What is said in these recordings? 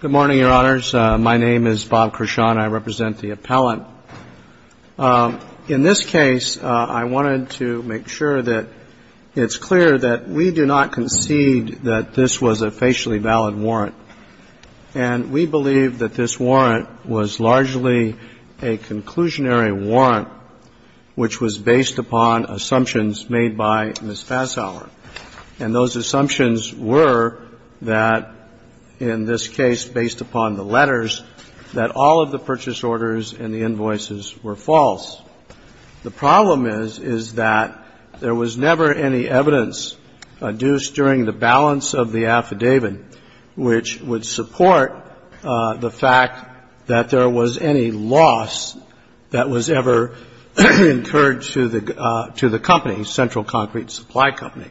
Good morning, Your Honors. My name is Bob Kershaw, and I represent the appellant. In this case, I wanted to make sure that it's clear that we do not concede that this was a facially valid warrant. And we believe that this warrant was largely a conclusionary warrant, which was based upon assumptions made by Ms. Fassauer. And those assumptions were that, in this case, based upon the letters, that all of the purchase orders and the invoices were false. The problem is, is that there was never any evidence adduced during the balance of the affidavit which would support the fact that there was any loss that was ever incurred to the company, Central Concrete Supply Company.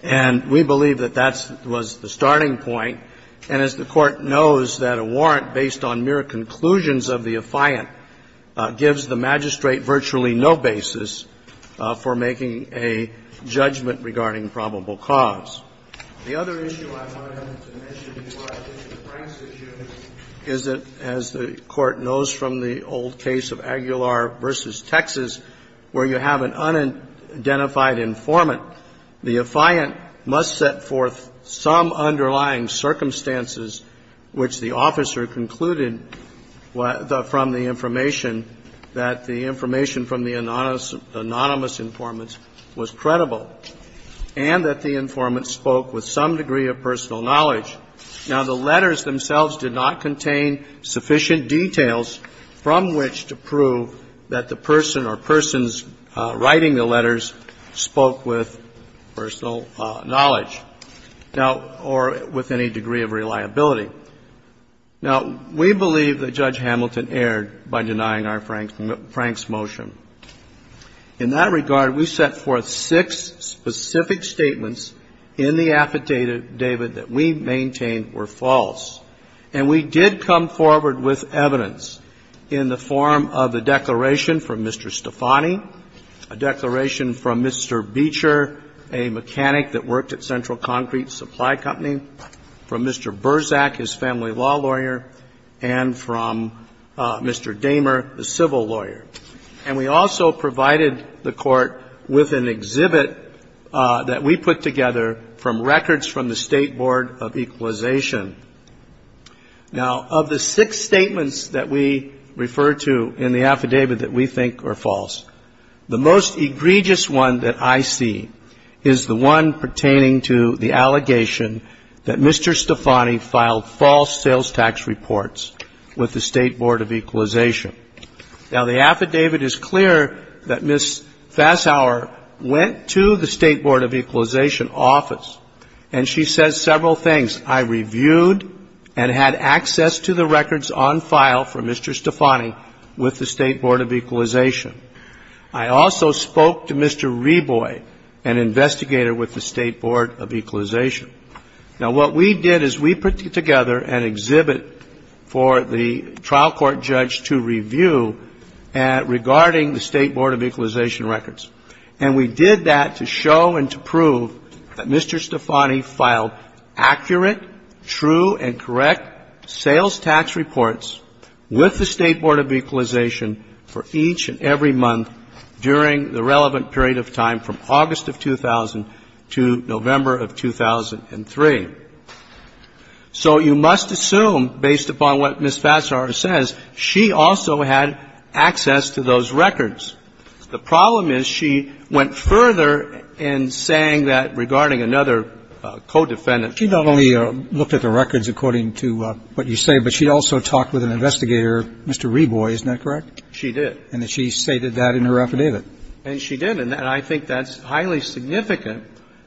And we believe that that was the starting point. And as the Court knows, that a warrant based on mere conclusions of the affiant gives the magistrate virtually no basis for making a judgment regarding probable cause. The other issue I wanted to mention before I get to Frank's issue is that, as the Court knows from the old case of Aguilar v. Texas, where you have an unidentified informant, the affiant must set forth some underlying circumstances which the officer concluded from the information that the information from the anonymous informant was credible, and that the informant spoke with some degree of personal knowledge. Now, the letters themselves did not contain sufficient details from which to prove that the person or persons writing the letters spoke with personal knowledge. Now, or with any degree of reliability. Now, we believe that Judge Hamilton erred by denying Frank's motion. In that regard, we set forth six specific statements in the affidavit that we maintained were false. And we did come forward with evidence in the form of a declaration from Mr. Stefani, a declaration from Mr. Beecher, a mechanic that worked at Central Concrete Supply Company, from Mr. Berzack, his family law lawyer, and from Mr. Dahmer, a civil lawyer. And we also provided the Court with an exhibit that we put together from records from the State Board of Equalization. Now, of the six statements that we refer to in the affidavit that we think are false, the most egregious one that I see is the one pertaining to the allegation that Mr. Stefani filed false sales tax reports with the State Board of Equalization. Now, the affidavit is clear that Ms. Fassauer went to the State Board of Equalization office, and she says several things. I reviewed and had access to the records on file from Mr. Stefani with the State Board of Equalization. I also spoke to Mr. Reboy, an investigator with the State Board of Equalization. Now, what we did is we put together an exhibit for the trial court judge to review regarding the State Board of Equalization records. And we did that to show and to prove that Mr. Stefani filed accurate, true and correct sales tax reports with the State Board of Equalization for each and every month during the relevant period of time from August of 2000 to November of 2003. So you must assume, based upon what Ms. Fassauer says, she also had access to those records. The problem is she went further in saying that regarding another co-defendant. Roberts. She not only looked at the records according to what you say, but she also talked with an investigator, Mr. Reboy, isn't that correct? She did. And she stated that in her affidavit. And she did. And I think that's highly significant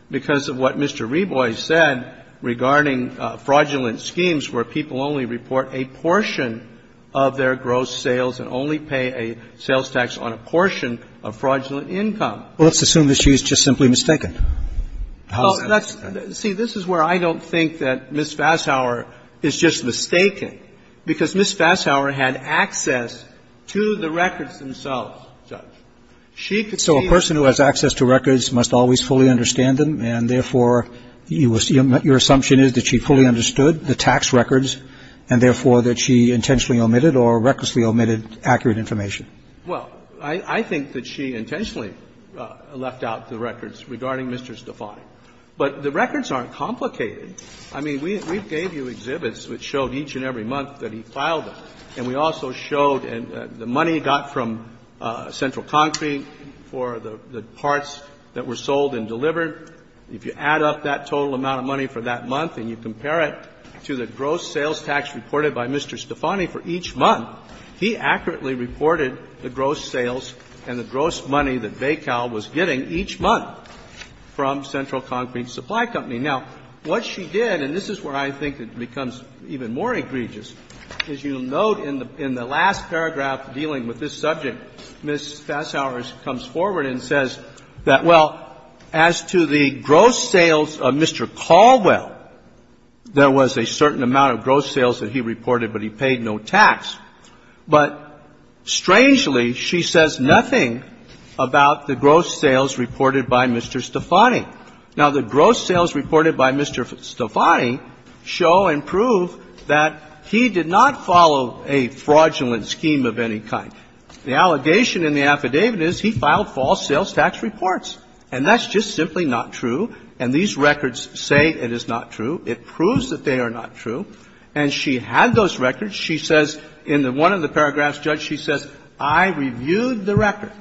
because of what Mr. Reboy said regarding fraudulent schemes where people only report a portion of their gross sales and only pay a sales tax on a portion of fraudulent income. Well, let's assume that she's just simply mistaken. See, this is where I don't think that Ms. Fassauer is just mistaken, because Ms. Fassauer had access to the records themselves, Judge. So a person who has access to records must always fully understand them, and therefore your assumption is that she fully understood the tax records, and therefore that she Well, I think that she intentionally left out the records regarding Mr. Stefani. But the records aren't complicated. I mean, we gave you exhibits which showed each and every month that he filed them. And we also showed the money got from Central Concrete for the parts that were sold and delivered. If you add up that total amount of money for that month and you compare it to the gross sales and the gross money that Baykal was getting each month from Central Concrete Supply Company. Now, what she did, and this is where I think it becomes even more egregious, is you note in the last paragraph dealing with this subject, Ms. Fassauer comes forward and says that, well, as to the gross sales of Mr. Caldwell, there was a certain amount of gross sales that he reported, but he paid no tax. But strangely, she says nothing about the gross sales reported by Mr. Stefani. Now, the gross sales reported by Mr. Stefani show and prove that he did not follow a fraudulent scheme of any kind. The allegation in the affidavit is he filed false sales tax reports. And that's just simply not true. And these records say it is not true. It proves that they are not true. And she had those records. She says in one of the paragraphs, Judge, she says, I reviewed the record.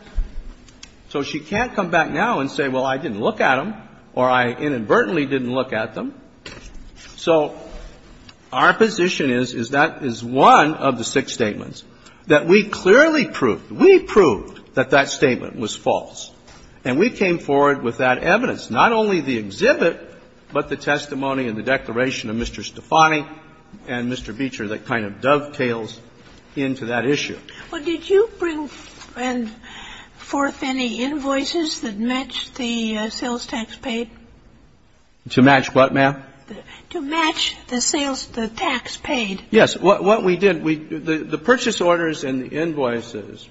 So she can't come back now and say, well, I didn't look at them, or I inadvertently didn't look at them. So our position is, is that is one of the six statements that we clearly proved. We proved that that statement was false. And we came forward with that evidence, not only the exhibit, but the testimony and the declaration of Mr. Stefani and Mr. Beecher that kind of dovetails into that issue. Well, did you bring forth any invoices that matched the sales tax paid? To match what, ma'am? To match the sales tax paid. Yes. What we did, the purchase orders and the invoices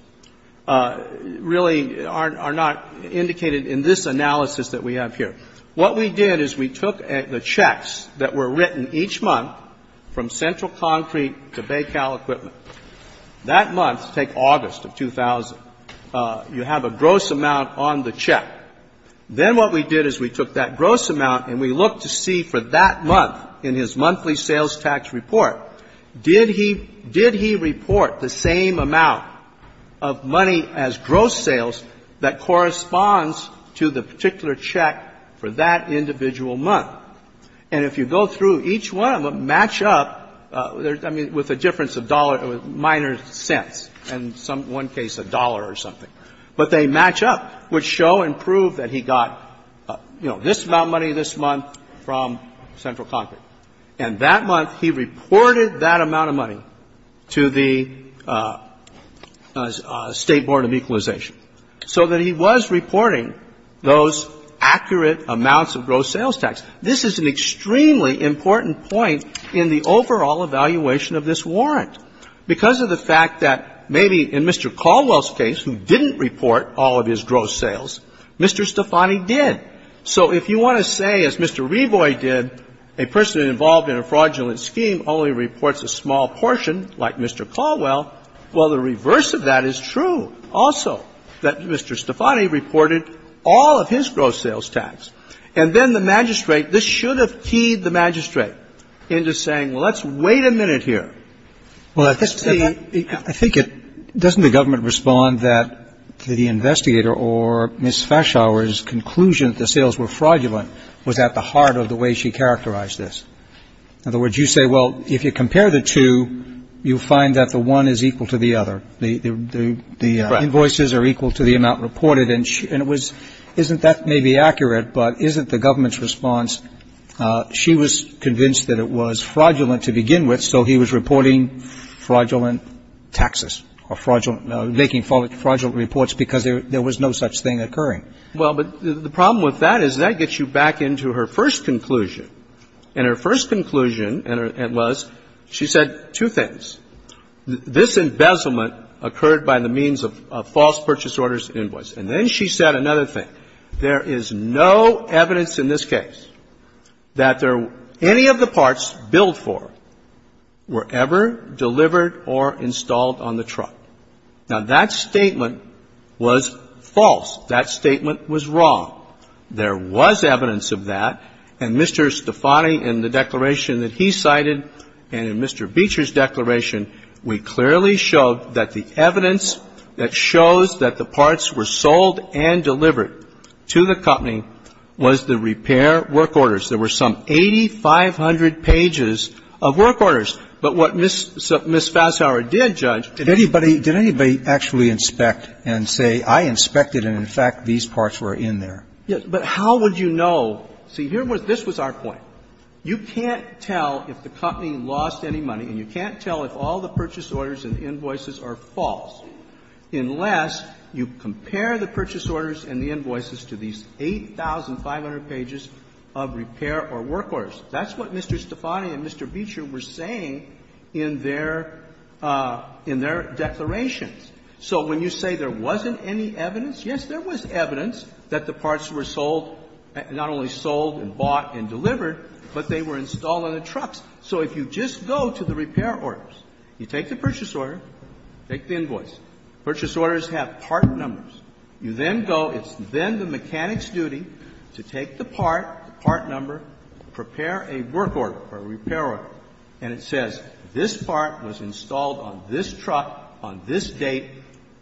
really are not indicated in this analysis that we have here. What we did is we took the checks that were written each month from Central Concrete to Baycal Equipment. That month, take August of 2000, you have a gross amount on the check. Then what we did is we took that gross amount and we looked to see for that month in his monthly sales tax report, did he report the same amount of money as gross sales that corresponds to the particular check for that individual month? And if you go through each one of them, match up, I mean, with a difference of dollar, minor cents, in one case a dollar or something. But they match up, which show and prove that he got, you know, this amount of money this month from Central Concrete. And that month he reported that amount of money to the State Board of Equalization so that he was reporting those accurate amounts of gross sales tax. This is an extremely important point in the overall evaluation of this warrant. Because of the fact that maybe in Mr. Caldwell's case, who didn't report all of his gross sales, Mr. Stefani did. So if you want to say, as Mr. Reboy did, a person involved in a fraudulent scheme only reports a small portion like Mr. Caldwell, well, the reverse of that is true also, that Mr. Stefani reported all of his gross sales tax. And then the magistrate, this should have teed the magistrate into saying, well, let's wait a minute here. Roberts. I think it doesn't the government respond that the investigator or Ms. Fashauer's conclusion that the sales were fraudulent was at the heart of the way she characterized this. In other words, you say, well, if you compare the two, you'll find that the one is equal to the other. The invoices are equal to the amount reported. And it was isn't that maybe accurate, but isn't the government's response, she was convinced that it was fraudulent to begin with. And so he was reporting fraudulent taxes or fraudulent or making fraudulent reports because there was no such thing occurring. Well, but the problem with that is that gets you back into her first conclusion. And her first conclusion was, she said two things. This embezzlement occurred by the means of false purchase orders and invoices. And then she said another thing. There is no evidence in this case that there any of the parts billed for were ever delivered or installed on the truck. Now, that statement was false. That statement was wrong. There was evidence of that. And Mr. Stefani, in the declaration that he cited and in Mr. Beecher's declaration, we clearly showed that the evidence that shows that the parts were sold and delivered to the company was the repair work orders. There were some 8,500 pages of work orders. But what Ms. Fasshauer did, Judge, did anybody actually inspect and say, I inspected and, in fact, these parts were in there? Yes. But how would you know? See, here was this was our point. You can't tell if the company lost any money and you can't tell if all the purchase orders and invoices are false unless you compare the purchase orders and the invoices to these 8,500 pages of repair or work orders. That's what Mr. Stefani and Mr. Beecher were saying in their, in their declarations. So when you say there wasn't any evidence, yes, there was evidence that the parts were sold, not only sold and bought and delivered, but they were installed on the trucks. So if you just go to the repair orders, you take the purchase order, take the invoice. Purchase orders have part numbers. You then go, it's then the mechanic's duty to take the part, the part number, prepare a work order or a repair order, and it says this part was installed on this truck on this date,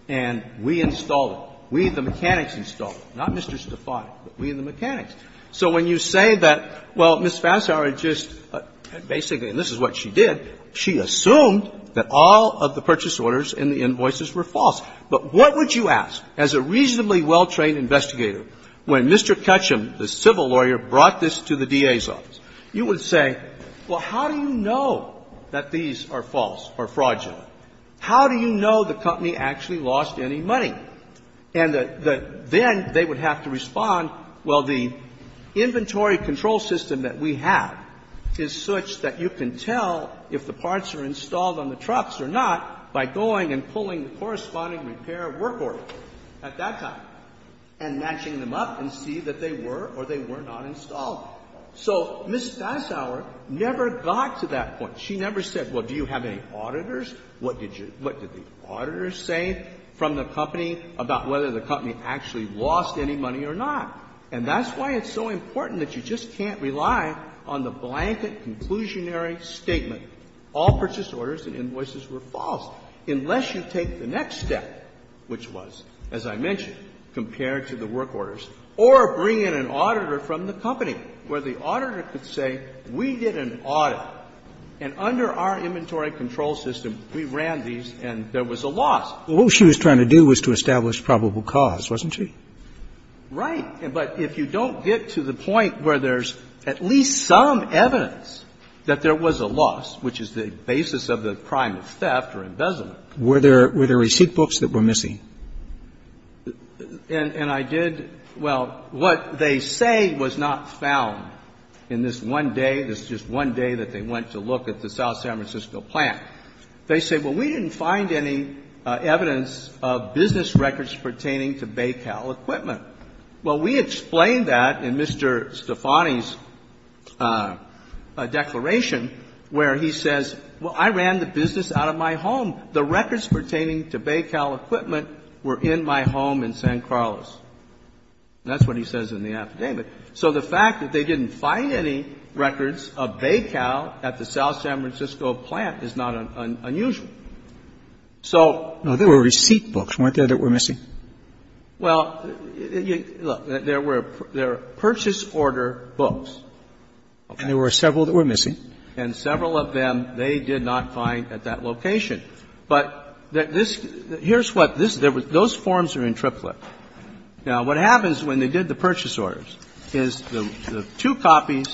and we installed it. We, the mechanics, installed it, not Mr. Stefani, but we, the mechanics. So when you say that, well, Ms. Fasshauer just basically, and this is what she did, she assumed that all of the purchase orders and the invoices were false. But what would you ask, as a reasonably well-trained investigator, when Mr. Kutchum, the civil lawyer, brought this to the DA's office? You would say, well, how do you know that these are false or fraudulent? How do you know the company actually lost any money? And then they would have to respond, well, the inventory control system that we have is such that you can tell if the parts are installed on the trucks or not by going and pulling the corresponding repair work order at that time and matching them up and seeing that they were or they were not installed. So Ms. Fasshauer never got to that point. She never said, well, do you have any auditors? What did you – what did the auditors say from the company about whether the company actually lost any money or not? And that's why it's so important that you just can't rely on the blanket, conclusionary statement, all purchase orders and invoices were false, unless you take the next step, which was, as I mentioned, compared to the work orders, or bring in an auditor from the company where the auditor could say, we did an audit, and under our inventory control system, we ran these and there was a loss. Well, what she was trying to do was to establish probable cause, wasn't she? Right. But if you don't get to the point where there's at least some evidence that there was a loss, which is the basis of the crime of theft or embezzlement. Were there receipt books that were missing? And I did – well, what they say was not found in this one day, this just one day that they went to look at the South San Francisco plant. They say, well, we didn't find any evidence of business records pertaining to Baycal equipment. Well, we explained that in Mr. Stefani's declaration, where he says, well, I ran the business out of my home. The records pertaining to Baycal equipment were in my home in San Carlos. That's what he says in the affidavit. So the fact that they didn't find any records of Baycal at the South San Francisco plant is not unusual. So – Now, there were receipt books, weren't there, that were missing? Well, look, there were purchase order books. Okay. And there were several that were missing. And several of them they did not find at that location. But this – here's what this – those forms are in triplet. Now, what happens when they did the purchase orders is the two copies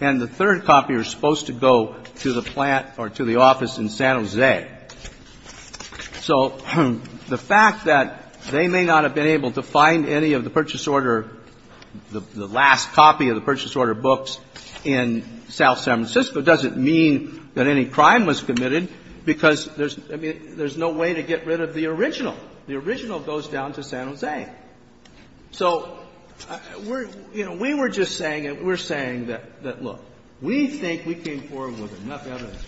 and the third copy are supposed to go to the plant or to the office in San Jose. So the fact that they may not have been able to find any of the purchase order – the last copy of the purchase order books in South San Francisco doesn't mean that any crime was committed because there's – I mean, there's no way to get rid of the original. The original goes down to San Jose. So we're – you know, we were just saying – we're saying that, look, we think we came forward with enough evidence.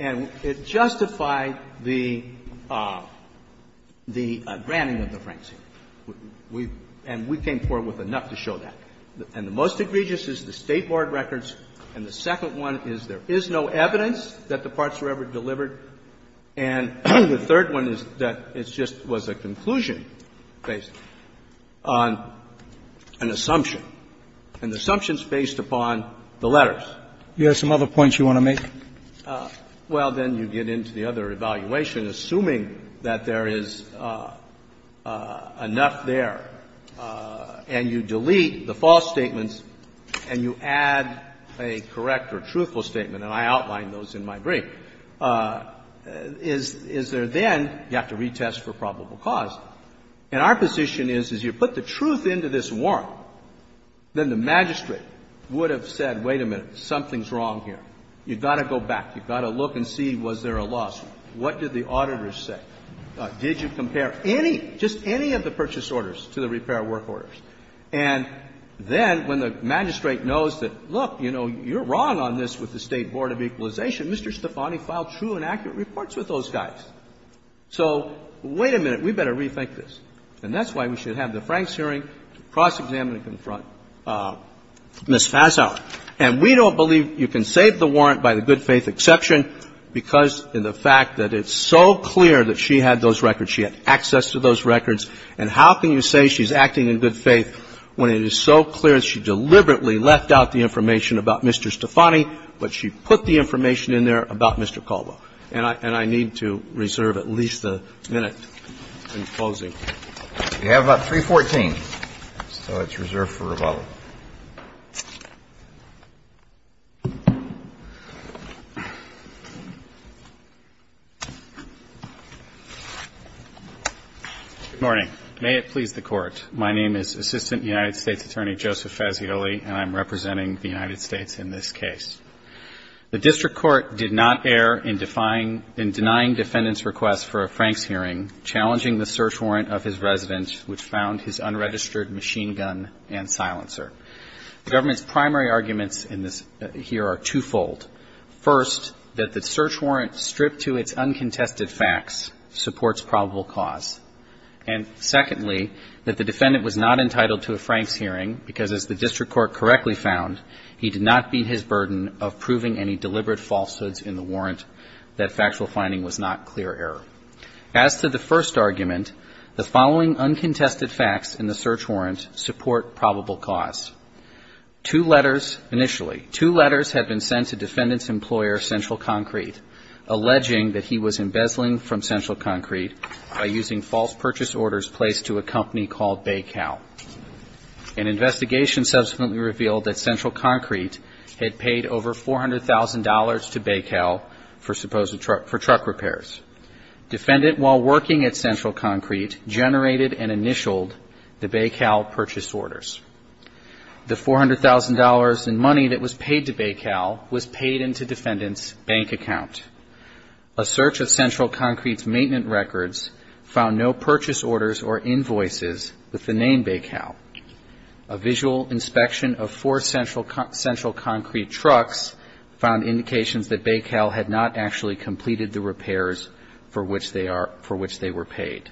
And it justified the – the granting of the Francine. We – and we came forward with enough to show that. And the most egregious is the State Board records. And the second one is there is no evidence that the parts were ever delivered. And the third one is that it just was a conclusion based on an assumption. And the assumption is based upon the letters. You have some other points you want to make? Well, then you get into the other evaluation, assuming that there is enough there and you delete the false statements and you add a correct or truthful statement. And I outlined those in my brief. Is there then – you have to retest for probable cause. And our position is, is you put the truth into this warrant, then the magistrate would have said, wait a minute, something's wrong here. You've got to go back. You've got to look and see was there a lawsuit. What did the auditors say? Did you compare any, just any of the purchase orders to the repair work orders? And then when the magistrate knows that, look, you know, you're wrong on this with the State Board of Equalization, Mr. Stefani filed true and accurate reports with those guys. So wait a minute. We better rethink this. And that's why we should have the Franks hearing to cross-examine and confront Ms. Fasauer. And we don't believe you can save the warrant by the good-faith exception because in the fact that it's so clear that she had those records, she had access to those records, and how can you say she's acting in good faith when it is so clear that she deliberately left out the information about Mr. Stefani, but she put the information in there about Mr. Calvo? And I need to reserve at least a minute in closing. We have 314. So it's reserved for rebuttal. Good morning. May it please the Court. My name is Assistant United States Attorney Joseph Fazioli, and I'm representing the United States in this case. The district court did not err in denying defendant's request for a Franks hearing, challenging the search warrant of his resident, which found his unregistered machine gun and silencer. The government's primary arguments in this here are twofold. First, that the search warrant stripped to its uncontested facts supports probable cause. And secondly, that the defendant was not entitled to a Franks hearing because as the district court correctly found, he did not be his burden of proving any deliberate falsehoods in the warrant, that factual finding was not clear error. As to the first argument, the following uncontested facts in the search warrant support probable cause. Two letters initially, two letters had been sent to defendant's employer, Central Concrete, alleging that he was embezzling from Central Concrete by using false purchase orders placed to a company called Baycal. An investigation subsequently revealed that Central Concrete had paid over $400,000 to Baycal for supposed truck, for truck repairs. Defendant, while working at Central Concrete, generated and initialed the Baycal purchase orders. The $400,000 in money that was paid to Baycal was paid into defendant's bank account. A search of Central Concrete's maintenance records found no purchase orders or repairs from Baycal. A visual inspection of four Central Concrete trucks found indications that Baycal had not actually completed the repairs for which they were paid.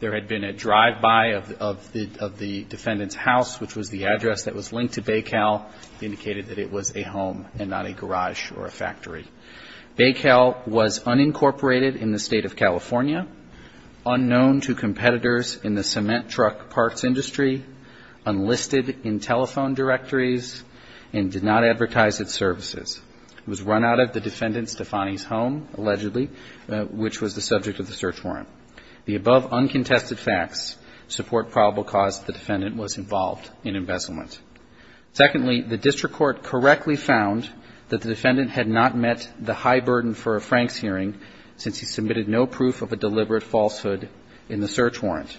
There had been a drive-by of the defendant's house, which was the address that was linked to Baycal, indicated that it was a home and not a garage or a factory. Baycal was unincorporated in the State of California, unknown to competitors in the industry, unlisted in telephone directories, and did not advertise its services. It was run out of the defendant Stefani's home, allegedly, which was the subject of the search warrant. The above uncontested facts support probable cause that the defendant was involved in embezzlement. Secondly, the district court correctly found that the defendant had not met the high burden for a Franks hearing since he submitted no proof of a deliberate falsehood in the search warrant.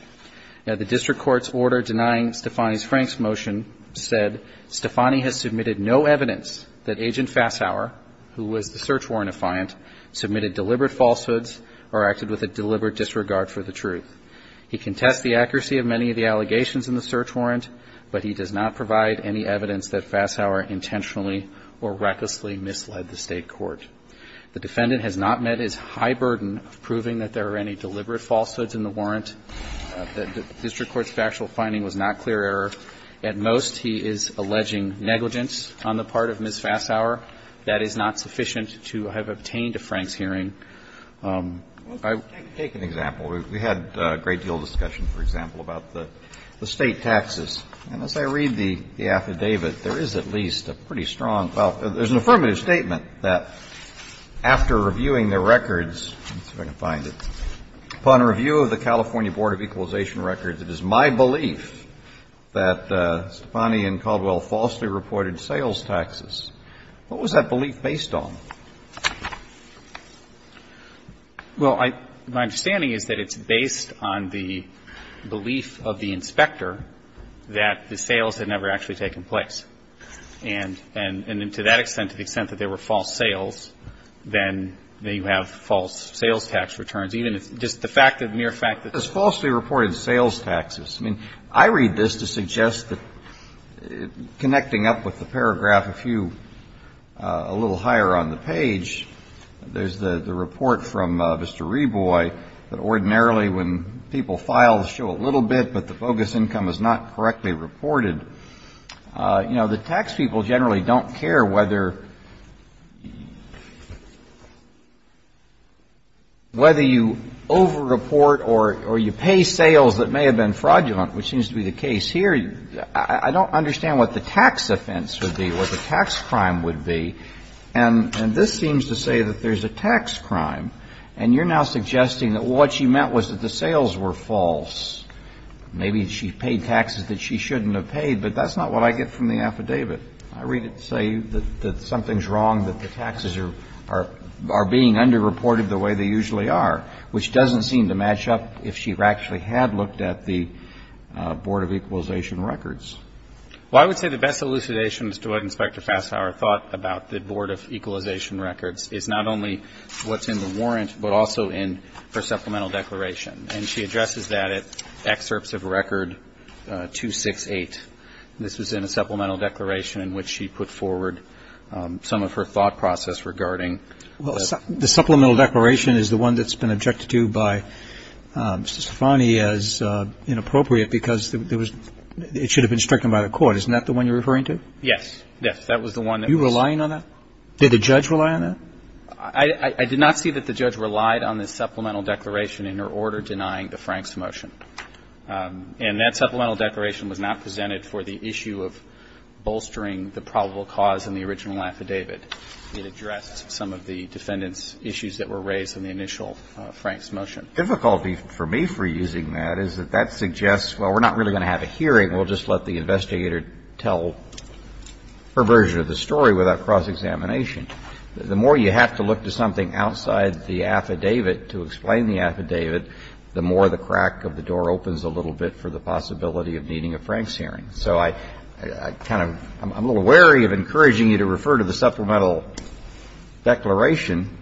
Now, the district court's order denying Stefani's Franks motion said Stefani has submitted no evidence that Agent Fassauer, who was the search warrant affiant, submitted deliberate falsehoods or acted with a deliberate disregard for the truth. He contests the accuracy of many of the allegations in the search warrant, but he does not provide any evidence that Fassauer intentionally or recklessly misled the state court. The defendant has not met his high burden of proving that there are any deliberate falsehoods in the warrant. The district court's factual finding was not clear error. At most, he is alleging negligence on the part of Ms. Fassauer. That is not sufficient to have obtained a Franks hearing. I would take an example. We had a great deal of discussion, for example, about the state taxes. And as I read the affidavit, there is at least a pretty strong – well, there's an affirmative statement that after reviewing the records – let's see if I can find it – upon review of the California Board of Equalization Records, it is my belief that Stefani and Caldwell falsely reported sales taxes. What was that belief based on? Well, my understanding is that it's based on the belief of the inspector that the sales had never actually taken place. And to that extent, to the extent that there were false sales, then you have false sales tax returns, even if – just the fact that – mere fact that there were false sales taxes. I mean, I read this to suggest that, connecting up with the paragraph a few – a little higher on the page, there's the report from Mr. Reboy that ordinarily when people file, show a little bit, but the bogus income is not correctly reported, you know, the tax people generally don't care whether – whether you over-report or you pay sales that may have been fraudulent, which seems to be the case here. I don't understand what the tax offense would be, what the tax crime would be. And this seems to say that there's a tax crime. And you're now suggesting that what she meant was that the sales were false. Maybe she paid taxes that she shouldn't have paid, but that's not what I get from the affidavit. I read it to say that something's wrong, that the taxes are being underreported the way they usually are, which doesn't seem to match up if she actually had looked at the Board of Equalization Records. Well, I would say the best elucidation as to what Inspector Fasshauer thought about the Board of Equalization Records is not only what's in the warrant, but also in her supplemental declaration. And she addresses that at Excerpts of Record 268. This was in a supplemental declaration in which she put forward some of her thought process regarding the – Well, the supplemental declaration is the one that's been objected to by Mr. Stefani as inappropriate because there was – it should have been stricken by the court. Isn't that the one you're referring to? Yes. Yes. That was the one that was – Are you relying on that? Did the judge rely on that? I did not see that the judge relied on the supplemental declaration in her order denying the Franks motion. And that supplemental declaration was not presented for the issue of bolstering the probable cause in the original affidavit. It addressed some of the defendant's issues that were raised in the initial Franks motion. The difficulty for me for using that is that that suggests, well, we're not really going to have a hearing. We'll just let the investigator tell her version of the story without cross-examination. The more you have to look to something outside the affidavit to explain the affidavit, the more the crack of the door opens a little bit for the possibility of needing a Franks hearing. So I kind of – I'm a little wary of encouraging you to refer to the supplemental declaration.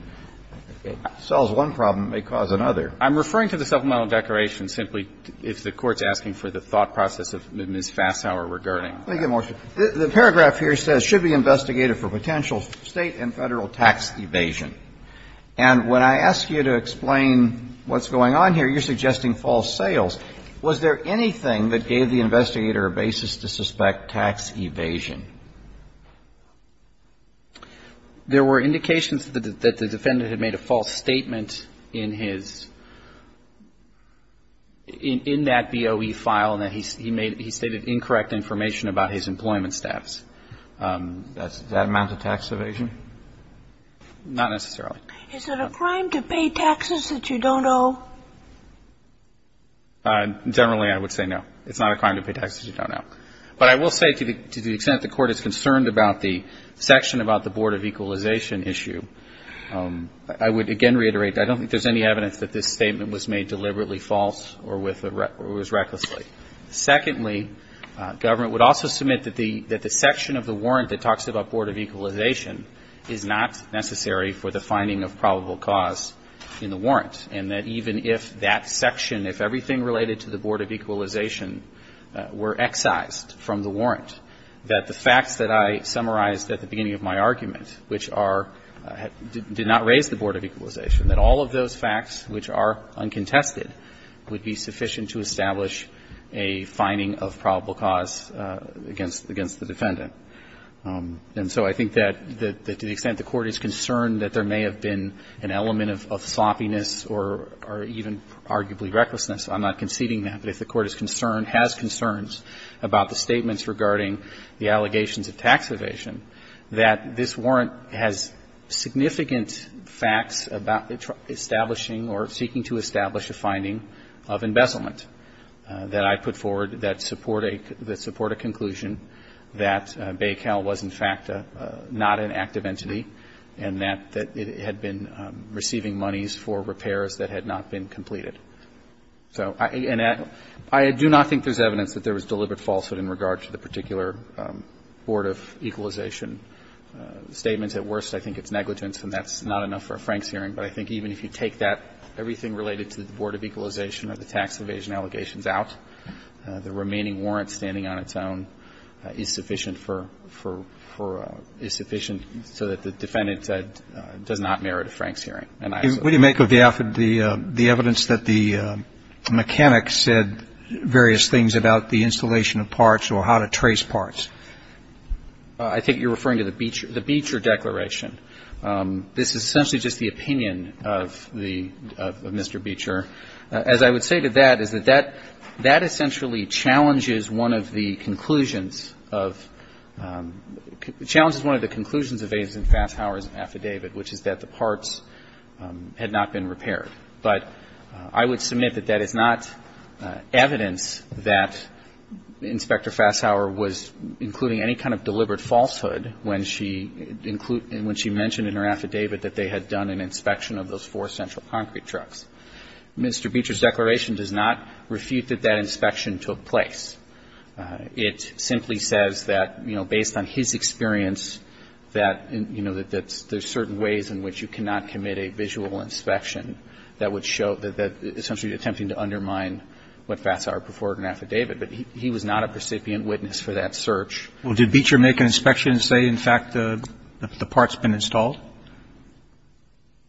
It solves one problem. It may cause another. I'm referring to the supplemental declaration simply if the Court's asking for the thought process of Ms. Fasshauer regarding that. Let me get more. The paragraph here says should be investigated for potential State and Federal tax evasion. And when I ask you to explain what's going on here, you're suggesting false sales. Was there anything that gave the investigator a basis to suspect tax evasion? There were indications that the defendant had made a false statement in his – in that DOE file and that he made – he stated incorrect information about his employment staffs. Does that amount to tax evasion? Not necessarily. Is it a crime to pay taxes that you don't owe? Generally, I would say no. It's not a crime to pay taxes you don't owe. But I will say to the extent the Court is concerned about the section about the board of equalization issue, I would again reiterate that I don't think there's any evidence that this statement was made deliberately false or with a – or was recklessly. Secondly, government would also submit that the – that the section of the warrant that talks about board of equalization is not necessary for the finding of probable cause in the warrant, and that even if that section, if everything related to the board of equalization were excised from the warrant, that the facts that I summarized at the beginning of my argument, which are – did not raise the board of equalization, that all of those facts, which are uncontested, would be sufficient to establish a finding of probable cause against – against the defendant. And so I think that to the extent the Court is concerned that there may have been an element of sloppiness or even arguably recklessness, I'm not conceding that. But if the Court is concerned, has concerns about the statements regarding the allegations of tax evasion, that this warrant has significant facts about establishing or seeking to establish a finding of embezzlement that I put forward that support a – that support a conclusion that Baycal was, in fact, not an active entity and that it had been receiving monies for repairs that had not been completed. So I – and I do not think there's evidence that there was deliberate falsehood in regard to the particular board of equalization statements. At worst, I think it's negligence, and that's not enough for a Franks hearing. But I think even if you take that – everything related to the board of equalization or the tax evasion allegations out, the remaining warrant standing on its own is sufficient for – for – is sufficient so that the defendant does not merit a Franks hearing. And I assume that's the case. Roberts, I'm not sure if you're referring to the – the evidence that the mechanic said various things about the installation of parts or how to trace parts. I think you're referring to the Beecher – the Beecher declaration. This is essentially just the opinion of the – of Mr. Beecher. As I would say to that, is that that – that essentially challenges one of the conclusions of – challenges one of the conclusions of Agent Fasshauer's affidavit, which is that the parts had not been repaired. But I would submit that that is not evidence that Inspector Fasshauer was including any kind of deliberate falsehood when she – when she mentioned in her affidavit that they had done an inspection of those four central concrete trucks. Mr. Beecher's declaration does not refute that that inspection took place. It simply says that, you know, based on his experience, that, you know, that there's certain ways in which you cannot commit a visual inspection that would show – that essentially attempting to undermine what Fasshauer put forward in an affidavit. But he was not a recipient witness for that search. Well, did Beecher make an inspection and say, in fact, the part's been installed?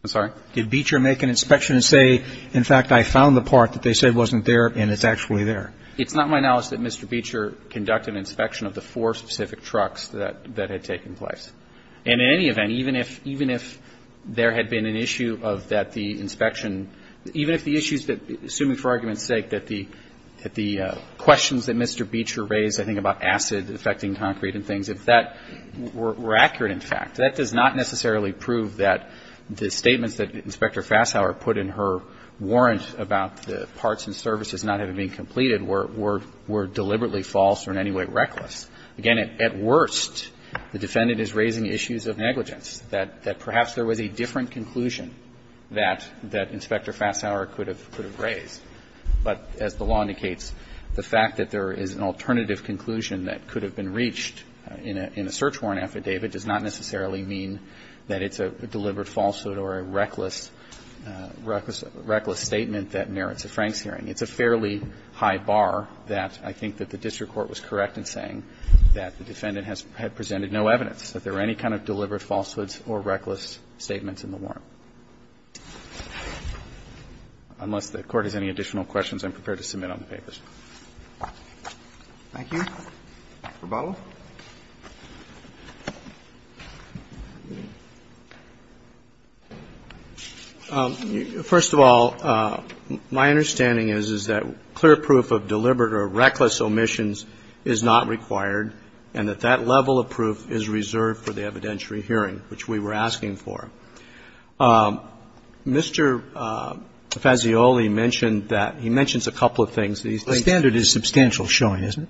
I'm sorry? Did Beecher make an inspection and say, in fact, I found the part that they said wasn't there and it's actually there? It's not my knowledge that Mr. Beecher conducted an inspection of the four specific trucks that – that had taken place. And in any event, even if – even if there had been an issue of that the inspection – even if the issues that – assuming for argument's sake that the – that the questions that Mr. Beecher raised, I think, about acid affecting concrete and things, if that were accurate in fact, that does not necessarily prove that the statements that Inspector Fasshauer put in her warrant about the parts and services not having been completed were – were deliberately false or in any way reckless. Again, at worst, the defendant is raising issues of negligence, that perhaps there was a different conclusion that Inspector Fasshauer could have raised. But as the law indicates, the fact that there is an alternative conclusion that could have been reached in a search warrant affidavit does not necessarily mean that it's a deliberate falsehood or a reckless – reckless statement that merits a Franks hearing. It's a fairly high bar that I think that the district court was correct in saying that the defendant has – had presented no evidence that there were any kind of deliberate falsehoods or reckless statements in the warrant. Unless the Court has any additional questions, I'm prepared to submit on the papers. Roberts. Thank you. Verbala. Verbala. First of all, my understanding is, is that clear proof of deliberate or reckless omissions is not required and that that level of proof is reserved for the evidentiary hearing, which we were asking for. Mr. Fazioli mentioned that – he mentions a couple of things. The standard is substantial showing, isn't it?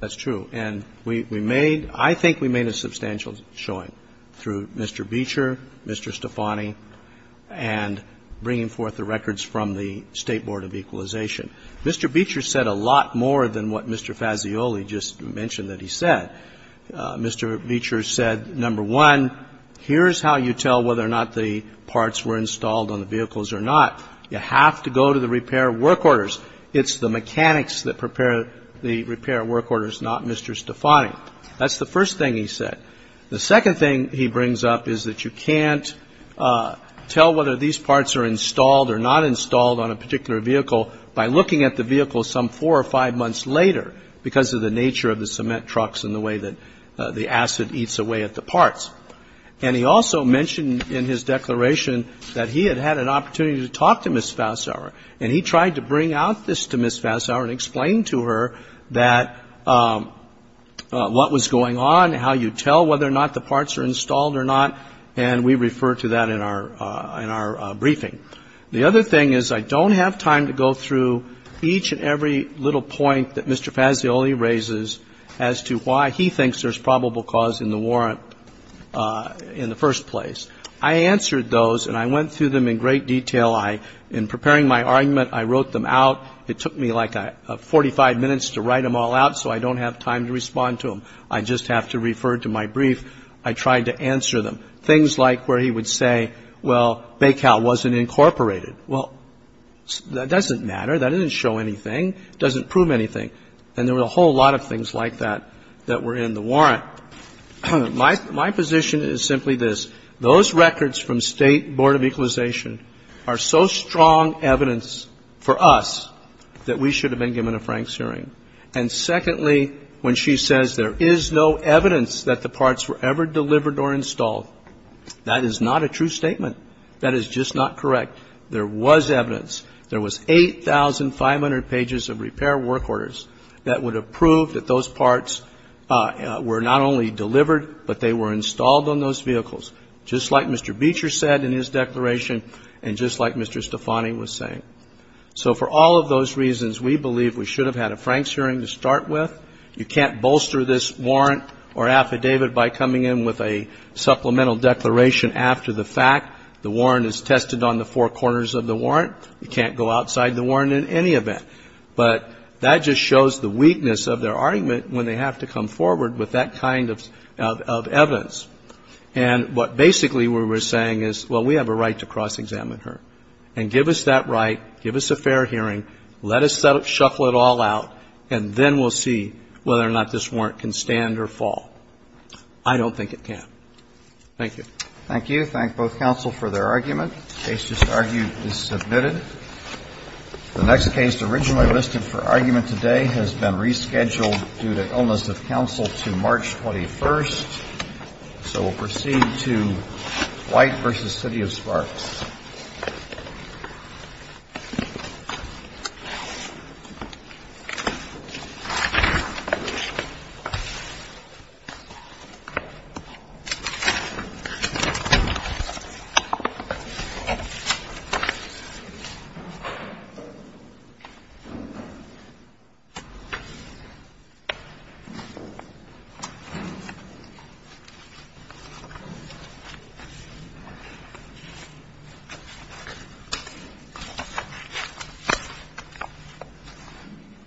That's true. And we made – I think we made a substantial showing through Mr. Beecher, Mr. Stefani, and bringing forth the records from the State Board of Equalization. Mr. Beecher said a lot more than what Mr. Fazioli just mentioned that he said. Mr. Beecher said, number one, here's how you tell whether or not the parts were installed on the vehicles or not. You have to go to the repair work orders. It's the mechanics that prepare the repair work orders, not Mr. Stefani. That's the first thing he said. The second thing he brings up is that you can't tell whether these parts are installed or not installed on a particular vehicle by looking at the vehicle some four or five months later because of the nature of the cement trucks and the way that the acid eats away at the parts. And he also mentioned in his declaration that he had had an opportunity to talk to Ms. Fazioli about this to Ms. Fazioli and explain to her that – what was going on, how you tell whether or not the parts are installed or not, and we refer to that in our briefing. The other thing is I don't have time to go through each and every little point that Mr. Fazioli raises as to why he thinks there's probable cause in the warrant in the first place. I answered those, and I went through them in great detail. In preparing my argument, I wrote them out. It took me like 45 minutes to write them all out, so I don't have time to respond to them. I just have to refer to my brief. I tried to answer them. Things like where he would say, well, BACAL wasn't incorporated. Well, that doesn't matter. That doesn't show anything. It doesn't prove anything. And there were a whole lot of things like that that were in the warrant. Now, my position is simply this. Those records from State Board of Equalization are so strong evidence for us that we should have been given a Franks hearing. And secondly, when she says there is no evidence that the parts were ever delivered or installed, that is not a true statement. That is just not correct. There was evidence. There was 8,500 pages of repair work orders that would have proved that those parts were not only delivered, but they were installed on those vehicles, just like Mr. Beecher said in his declaration and just like Mr. Stefani was saying. So for all of those reasons, we believe we should have had a Franks hearing to start with. You can't bolster this warrant or affidavit by coming in with a supplemental declaration after the fact. The warrant is tested on the four corners of the warrant. You can't go outside the warrant in any event. But that just shows the weakness of their argument when they have to come forward with that kind of evidence. And what basically we're saying is, well, we have a right to cross-examine her. And give us that right, give us a fair hearing, let us shuffle it all out, and then we'll see whether or not this warrant can stand or fall. I don't think it can. Thank you. Roberts. Thank you. Thank both counsel for their argument. The case just argued is submitted. The next case originally listed for argument today has been rescheduled due to illness of counsel to March 21st. So we'll proceed to White v. City of Sparks. Thank you.